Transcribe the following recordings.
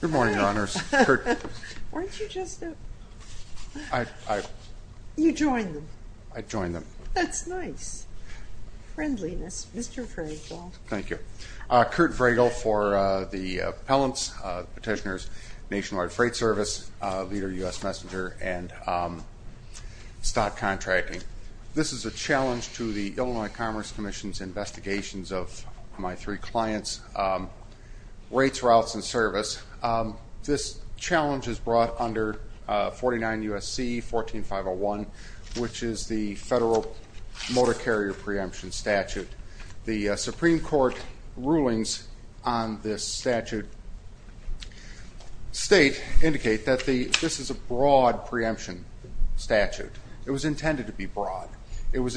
Good morning, Your Honors. Aren't you just a... You joined them. I joined them. That's nice. Friendliness. Mr. Vragel. Thank you. Kurt Vragel for the appellants, petitioners, Nationwide Freight Service, leader of U.S. Messenger, and stock contracting. This is a challenge to the Illinois Commerce Commission's investigations of my three clients. Rates, routes, and service. This challenge is brought under 49 U.S.C. 14501, which is the federal motor carrier preemption statute. The Supreme Court rulings on this statute state, indicate that this is a broad preemption statute. It was intended to be broad. It was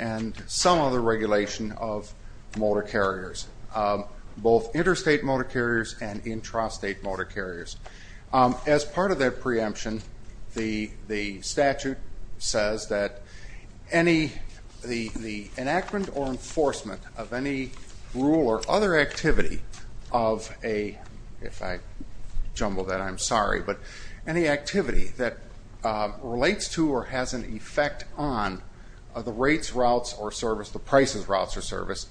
and some other regulation of motor carriers, both interstate motor carriers and intrastate motor carriers. As part of that preemption, the statute says that any, the enactment or enforcement of any rule or other activity of a, if I jumble that, I'm sorry, but any activity that relates to or has an effect on the rates, routes, or service, the prices, routes, or service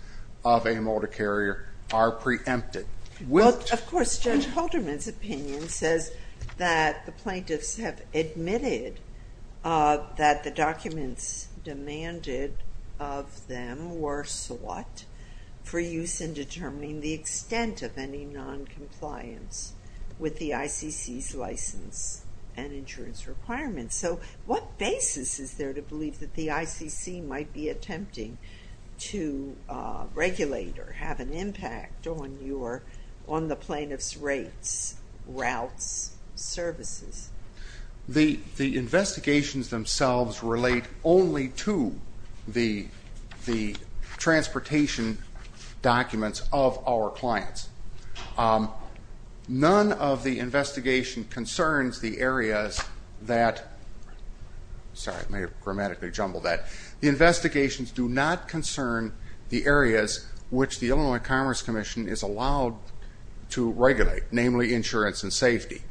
of a motor carrier are preempted. Of course, Judge Halderman's opinion says that the plaintiffs have admitted that the documents demanded of them were sought for use in determining the extent of noncompliance with the ICC's license and insurance requirements. So what basis is there to believe that the ICC might be attempting to regulate or have an impact on your, on the plaintiff's rates, routes, services? The investigations themselves relate only to the transportation documents of our clients. None of the investigation concerns the areas that, sorry, I may have grammatically jumbled that, the investigations do not concern the areas which the Illinois Commerce Commission is allowed to regulate, namely insurance and safety.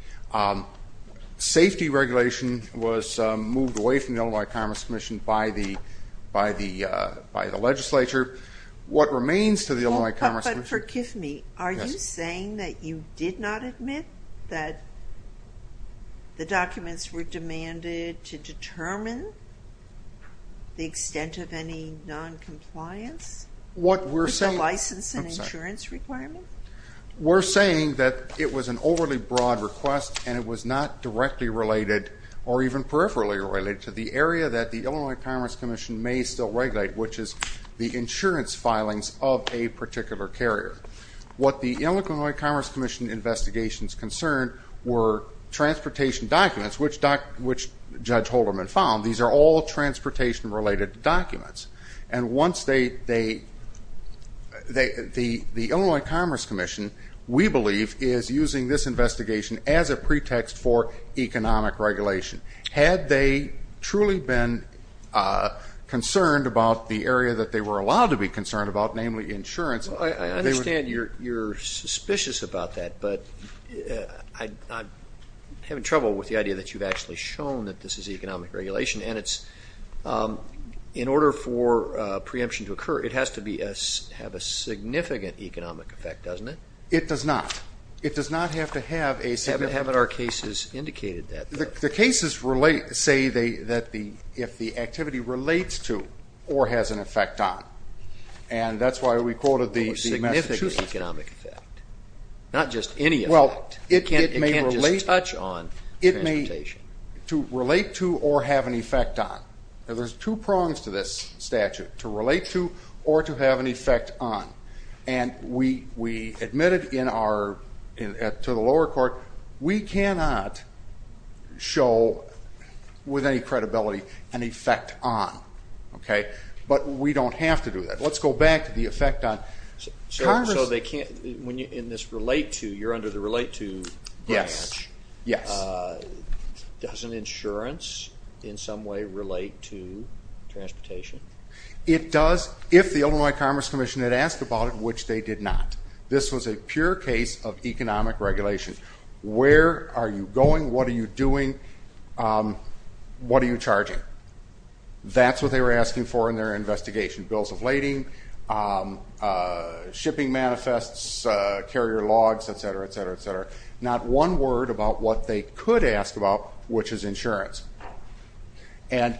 Safety regulation was moved away from the Illinois Commerce Commission by the legislature. What remains to the Illinois Commerce Commission... But forgive me, are you saying that you did not admit that the documents were demanded to determine the extent of any noncompliance with the license and insurance requirement? We're saying that it was an overly broad request and it was not directly related or even peripherally related to the area that the Illinois Commerce Commission was allowed to regulate. The Illinois Commerce Commission, we believe, is using this investigation as a pretext for economic regulation. Had they truly been concerned about the area that they were allowed to be concerned about, namely insurance... I understand you're suspicious about that, but I'm having trouble with the idea that you've actually shown that this is economic regulation and it's, in order for preemption to occur, it has to have a significant economic effect, doesn't it? It does not. It does not have to relate to or have an effect on. And that's why we quoted the Massachusetts. Significant economic effect. Not just any effect. It can't just touch on transportation. It may relate to or have an effect on. There's two prongs to this statute, to relate to or to have an effect on. And we admitted to the lower court, we cannot show, with any credibility, an effect on. But we don't have to do that. Let's go back to the effect on... When you're in this relate to, you're under the relate to... Does an insurance in some way relate to transportation? It does if the Illinois Commerce Commission had asked about it, which they did not. This was a pure case of economic regulation. Where are you going? What are you doing? What are you charging? That's what they were asking for in their investigation. Bills of lading, shipping manifests, carrier logs, etc., etc., etc. Not one word about what they could ask about, which is insurance. And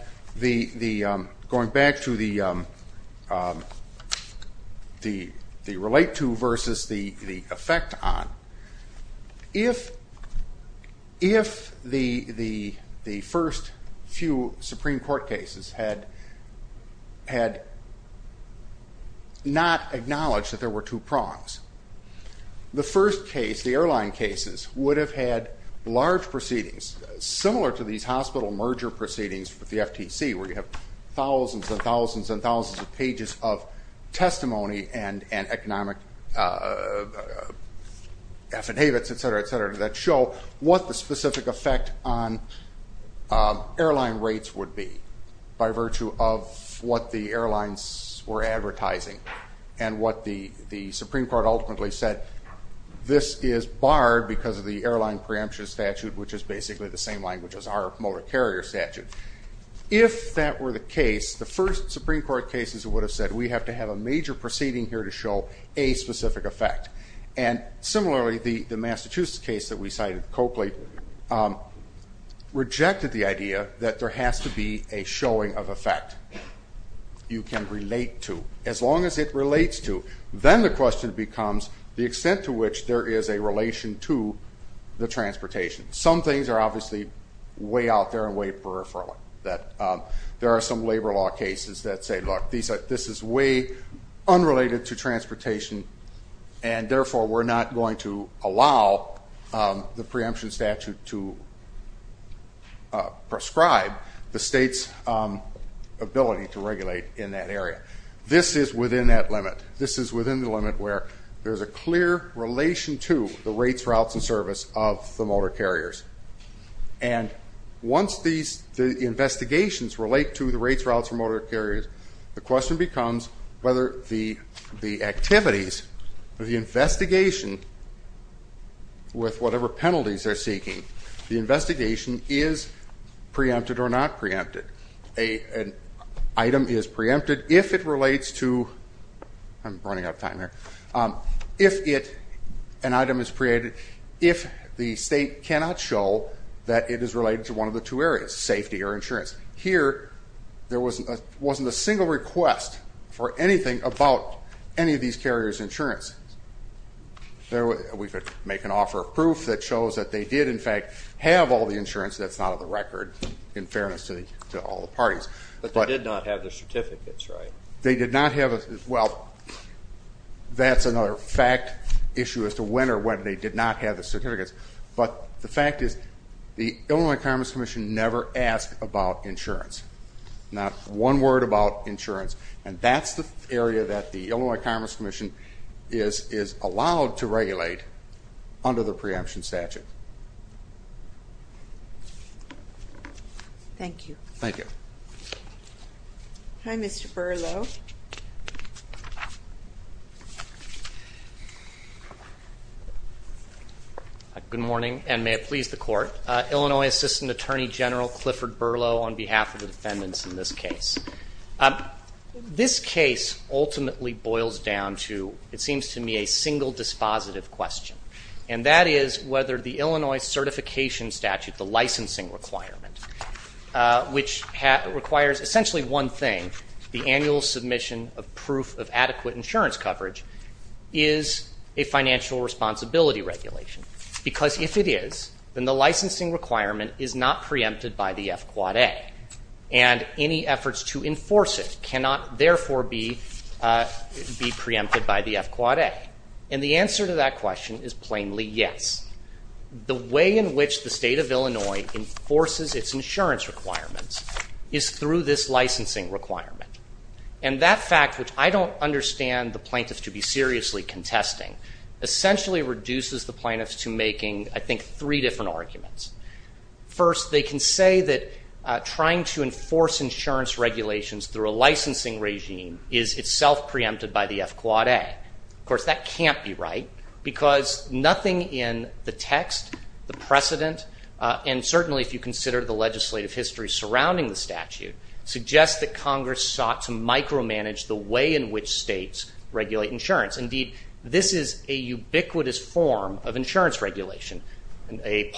going back to the relate to versus the effect on, if the first few Supreme Court cases had not acknowledged that there were two prongs, the first case, the airline cases, would have had large proceedings, similar to these hospital merger proceedings with the FTC, where you have thousands and thousands and thousands of pages of testimony and economic affidavits, etc., etc., that show what the specific effect on airline rates would be by virtue of what the airlines were advertising and what the Supreme Court ultimately said, this is barred because of the airline preemption statute, which is basically the same language as our motor carrier statute. If that were the case, the first Supreme Court cases would have said, we have to have a major proceeding here to show a specific effect. And similarly, the Massachusetts case that we cited, Coakley, rejected the idea that there has to be a showing of effect you can relate to, as long as it relates to. Then the question becomes the extent to which there is a relation to the transportation. Some things are obviously way out there and way peripheral. There are some labor law cases that say, look, this is way unrelated to transportation, and therefore we're not going to allow the preemption statute to prescribe the state's ability to regulate in that area. This is within that limit. This is within the limit where there's a clear relation to the rates, routes, and service of the motor carriers. And once the investigations relate to the rates, routes, and motor carriers, the question becomes whether the activities of the investigation with whatever penalties they're seeking, the investigation is preempted or not preempted. An item is preempted if it relates to, I'm running out of time here, if an item is preempted, if the state cannot show that it is related to one of the two areas, safety or insurance. Here, there wasn't a single request for anything about any of these carriers' insurance. We could make an offer of proof that shows that they did, in fact, have all the insurance. That's not on the record, in fairness to all the parties. But they did not have the certificates, right? They did not have, well, that's another fact issue as to when or when they did not have the certificates. But the fact is, the Illinois Commerce Commission never asked about insurance. Not one word about insurance. And that's the area that the Illinois Commerce Commission is allowed to regulate under the preemption statute. Thank you. Thank you. Hi, Mr. Berlo. Good morning, and may it please the Court. Illinois Assistant Attorney General Clifford Berlo on behalf of the defendants in this case. This case ultimately boils down to, it seems to me, a single dispositive question. And that is whether the Illinois certification statute, the licensing requirement, which requires essentially one thing, the annual submission of proof of adequate insurance coverage, is a financial responsibility regulation. Because if it is, then the licensing requirement is not to enforce it, cannot therefore be preempted by the FQAA. And the answer to that question is plainly yes. The way in which the state of Illinois enforces its insurance requirements is through this licensing requirement. And that fact, which I don't understand the plaintiffs to be seriously contesting, essentially reduces the plaintiffs to making, I think, three different arguments. First, they can say that trying to enforce insurance regulations through a licensing regime is itself preempted by the FQAA. Of course, that can't be right, because nothing in the text, the precedent, and certainly if you consider the legislative history surrounding the statute, suggests that Congress sought to micromanage the way in which states regulate insurance. Indeed, this is a ubiquitous form of insurance regulation. A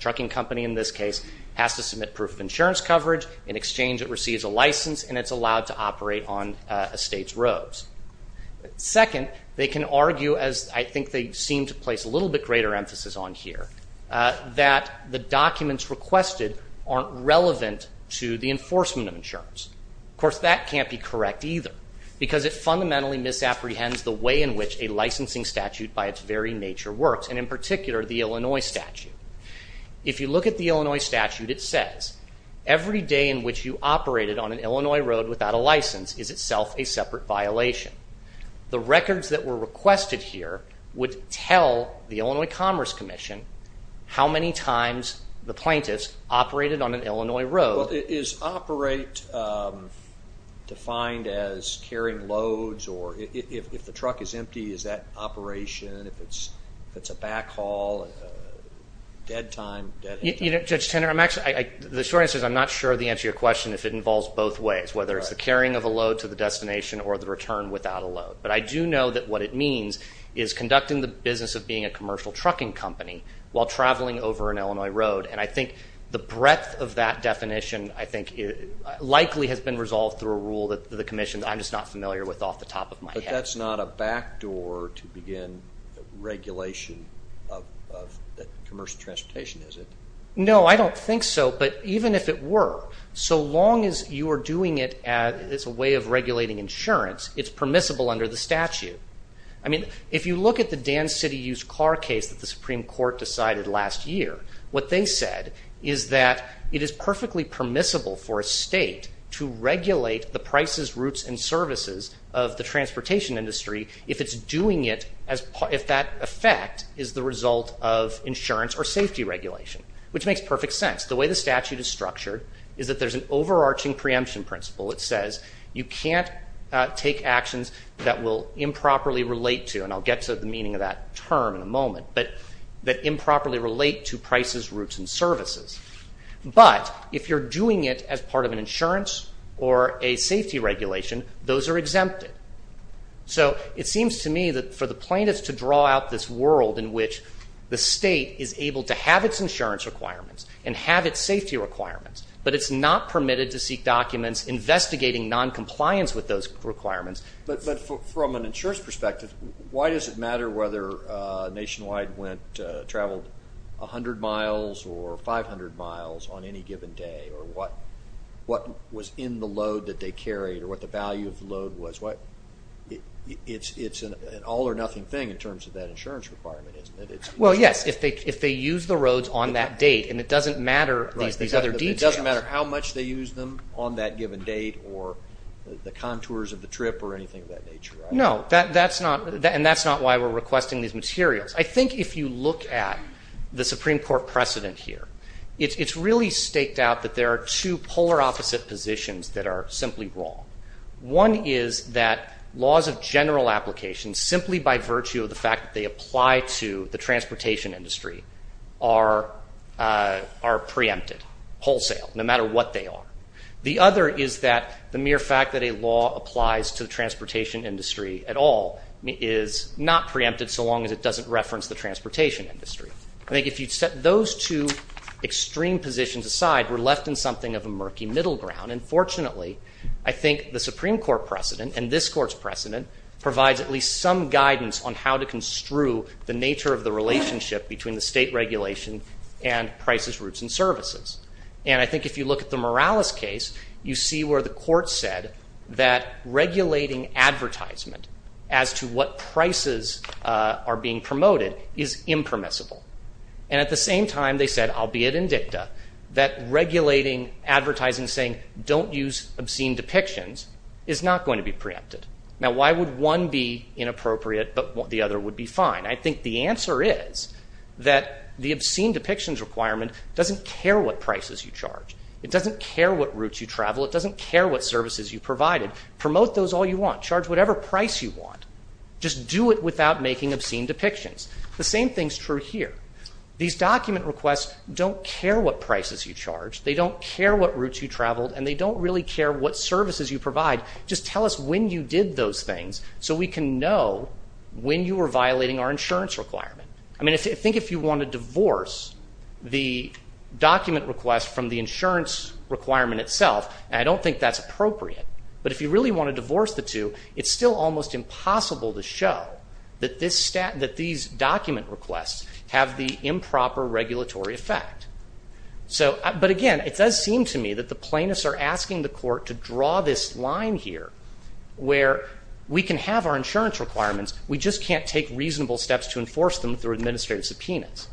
trucking company, in this case, has to submit proof of insurance coverage. In exchange, it receives a license and it's allowed to operate on a state's roads. Second, they can argue, as I think they seem to place a little bit greater emphasis on here, that the documents requested aren't relevant to the enforcement of insurance. Of course, that can't be correct either, because it fundamentally misapprehends the way in which a licensing statute by its very nature works, and in particular, the Illinois statute. If you look at the Illinois statute, it says, every day in which you operated on an Illinois road without a license is itself a separate violation. The records that were requested here would tell the Illinois Commerce Commission how many times the plaintiffs operated on an Illinois road. Well, is operate defined as carrying loads, or if the truck is empty, is that operation, if it's a backhaul, a dead time? Judge Tenner, the short answer is I'm not sure the answer to your question if it involves both ways, whether it's the carrying of a load to the destination or the return without a load. But I do know that what it means is conducting the business of being a commercial trucking company while traveling over an Illinois road, and I think the breadth of that definition, I think, likely has been resolved through a rule that the commission, I'm just not familiar with off the top of my head. But that's not a backdoor to begin regulation of commercial transportation, is it? No, I don't think so, but even if it were, so long as you are doing it as a way of regulating insurance, it's permissible under the statute. I mean, if you look at the permissible for a state to regulate the prices, routes, and services of the transportation industry if it's doing it, if that effect is the result of insurance or safety regulation, which makes perfect sense. The way the statute is structured is that there's an overarching preemption principle that says you can't take actions that will improperly relate to, and I'll get to the meaning of that term in a moment, but that improperly relate to prices, routes, and services. But if you're doing it as part of an insurance or a safety regulation, those are exempted. So it seems to me that for the plaintiffs to draw out this world in which the state is able to have its insurance requirements and have its safety requirements, but it's not permitted to seek documents investigating noncompliance with those requirements. But from an insurance perspective, why does it matter whether Nationwide traveled 100 miles or 500 miles on any given day or what was in the load that they carried or what the value of the load was? It's an all-or-nothing thing in terms of that insurance requirement, isn't it? Well, yes, if they use the roads on that date and it doesn't matter these other details. It doesn't matter how much they use them on that given date or the contours of the trip or anything of that nature. No, and that's not why we're requesting these materials. I think if you look at the Supreme Court precedent here, it's really staked out that there are two polar opposite positions that are simply wrong. One is that laws of general application simply by virtue of the fact that they apply to the transportation industry are preempted wholesale, no matter what they are. The other is that the mere fact that a law applies to the transportation industry at all is not preempted so long as it doesn't reference the transportation industry. I think if you'd set those two extreme positions aside, we're left in something of a murky middle ground. And fortunately, I think the Supreme Court precedent and this Court's precedent provides at least some guidance on how to construe the nature of the relationship between the state regulation and prices, routes, and services. And I think if you look at the Morales case, you see where the Court said that regulating advertisement as to what prices are being promoted is impermissible. And at the same time, they said, albeit in dicta, that regulating advertising saying don't use obscene depictions is not going to be preempted. Now, why would one be inappropriate but the other would be fine? I think the answer is that the obscene depictions requirement doesn't care what prices you charge. It doesn't care what routes you travel. It doesn't care what services you provided. Promote those all you want. Charge whatever price you want. Just do it without making obscene depictions. The same thing's true here. These document requests don't care what prices you charge. They don't care what routes you traveled. And they don't really care what insurance requirement. I mean, I think if you want to divorce the document request from the insurance requirement itself, I don't think that's appropriate. But if you really want to divorce the two, it's still almost impossible to show that these document requests have the improper regulatory effect. But again, it does seem to me that the plaintiffs are asking the Court to draw this line here where we can have our insurance requirements. We just can't take reasonable steps to enforce them through administrative subpoenas.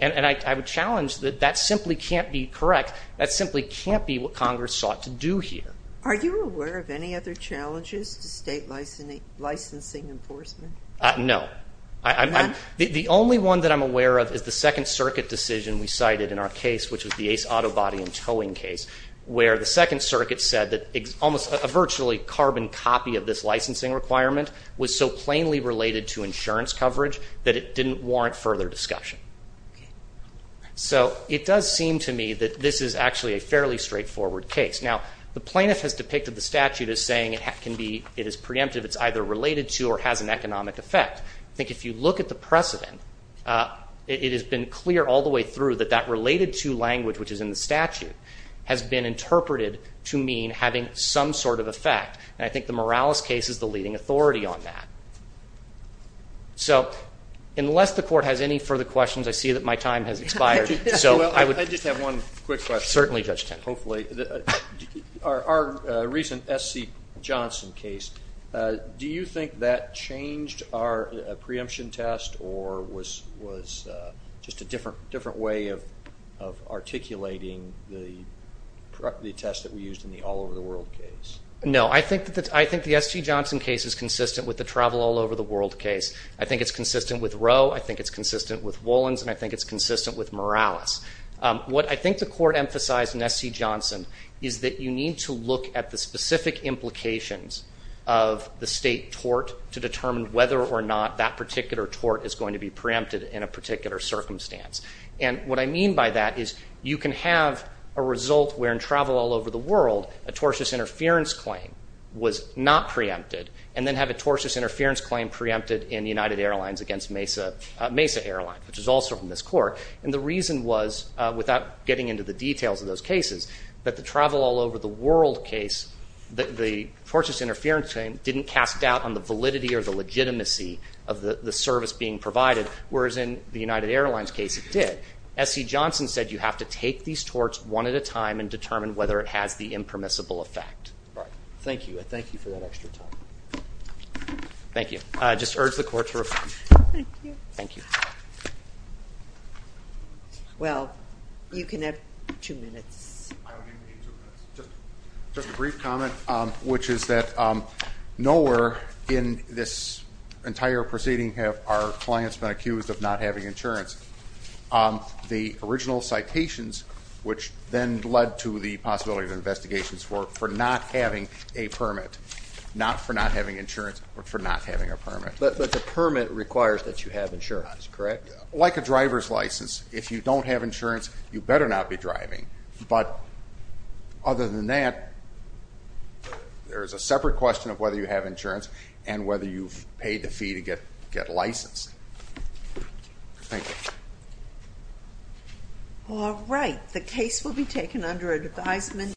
And I would challenge that that simply can't be correct. That simply can't be what Congress sought to do here. Are you aware of any other challenges to state licensing enforcement? No. The only one that I'm aware of is the Second Circuit decision we cited in our case, which was the Ace Auto Body and Towing case, where the Second Circuit said that a virtually carbon copy of this licensing requirement was so plainly related to insurance coverage that it didn't warrant further discussion. So it does seem to me that this is actually a fairly straightforward case. Now, the plaintiff has depicted the statute as saying it is preemptive. It's either related to or has an economic effect. I think if you look at the precedent, it has been clear all the way through that that related to language, which is in the statute, has been interpreted to mean having some sort of effect. And I think the Morales case is the leading authority on that. So, unless the Court has any further questions, I see that my time has expired. I just have one quick question. Certainly, Judge Tenney. Hopefully. Our recent S.C. Johnson case, do you think that changed our preemption test or was just a different way of articulating the test that we used in the all-over-the-world case? No. I think the S.C. Johnson case is consistent with the travel all-over-the-world case. I think it's consistent with Roe. I think it's consistent with Wollins. And I think it's consistent with Morales. What I think the Court emphasized in S.C. Johnson is that you need to look at the specific implications of the state tort to determine whether or not that particular tort is going to be preempted in a particular circumstance. And what I mean by that is you can have a result wherein travel all over the world, a tortious interference claim was not preempted, and then have a tortious interference claim preempted in United Airlines against Mesa Airlines, which is also from this Court. And the reason was, without getting into the details of those cases, that the travel all-over-the-world case, the tortious interference claim didn't cast doubt on the validity or the legitimacy of the service being provided, whereas in the United Airlines case it did. S.C. Johnson said you have to take these torts one at a time and determine whether it has the impermissible effect. Thank you. I thank you for that extra time. Thank you. I just urge the Court to refrain. Thank you. Well, you can have two minutes. I'll give you two minutes. Just a brief comment, which is that nowhere in this entire proceeding have our clients been accused of not having insurance. The original citations, which then led to the possibility of investigations for not having a permit, not for not having insurance, but for not having a permit. But the permit requires that you have insurance, correct? Like a driver's license. If you don't have insurance, you better not be driving. But other than that, there's a separate question of whether you have insurance and whether you've paid the fee to get licensed. Thank you. All right. The case will be taken under advisement.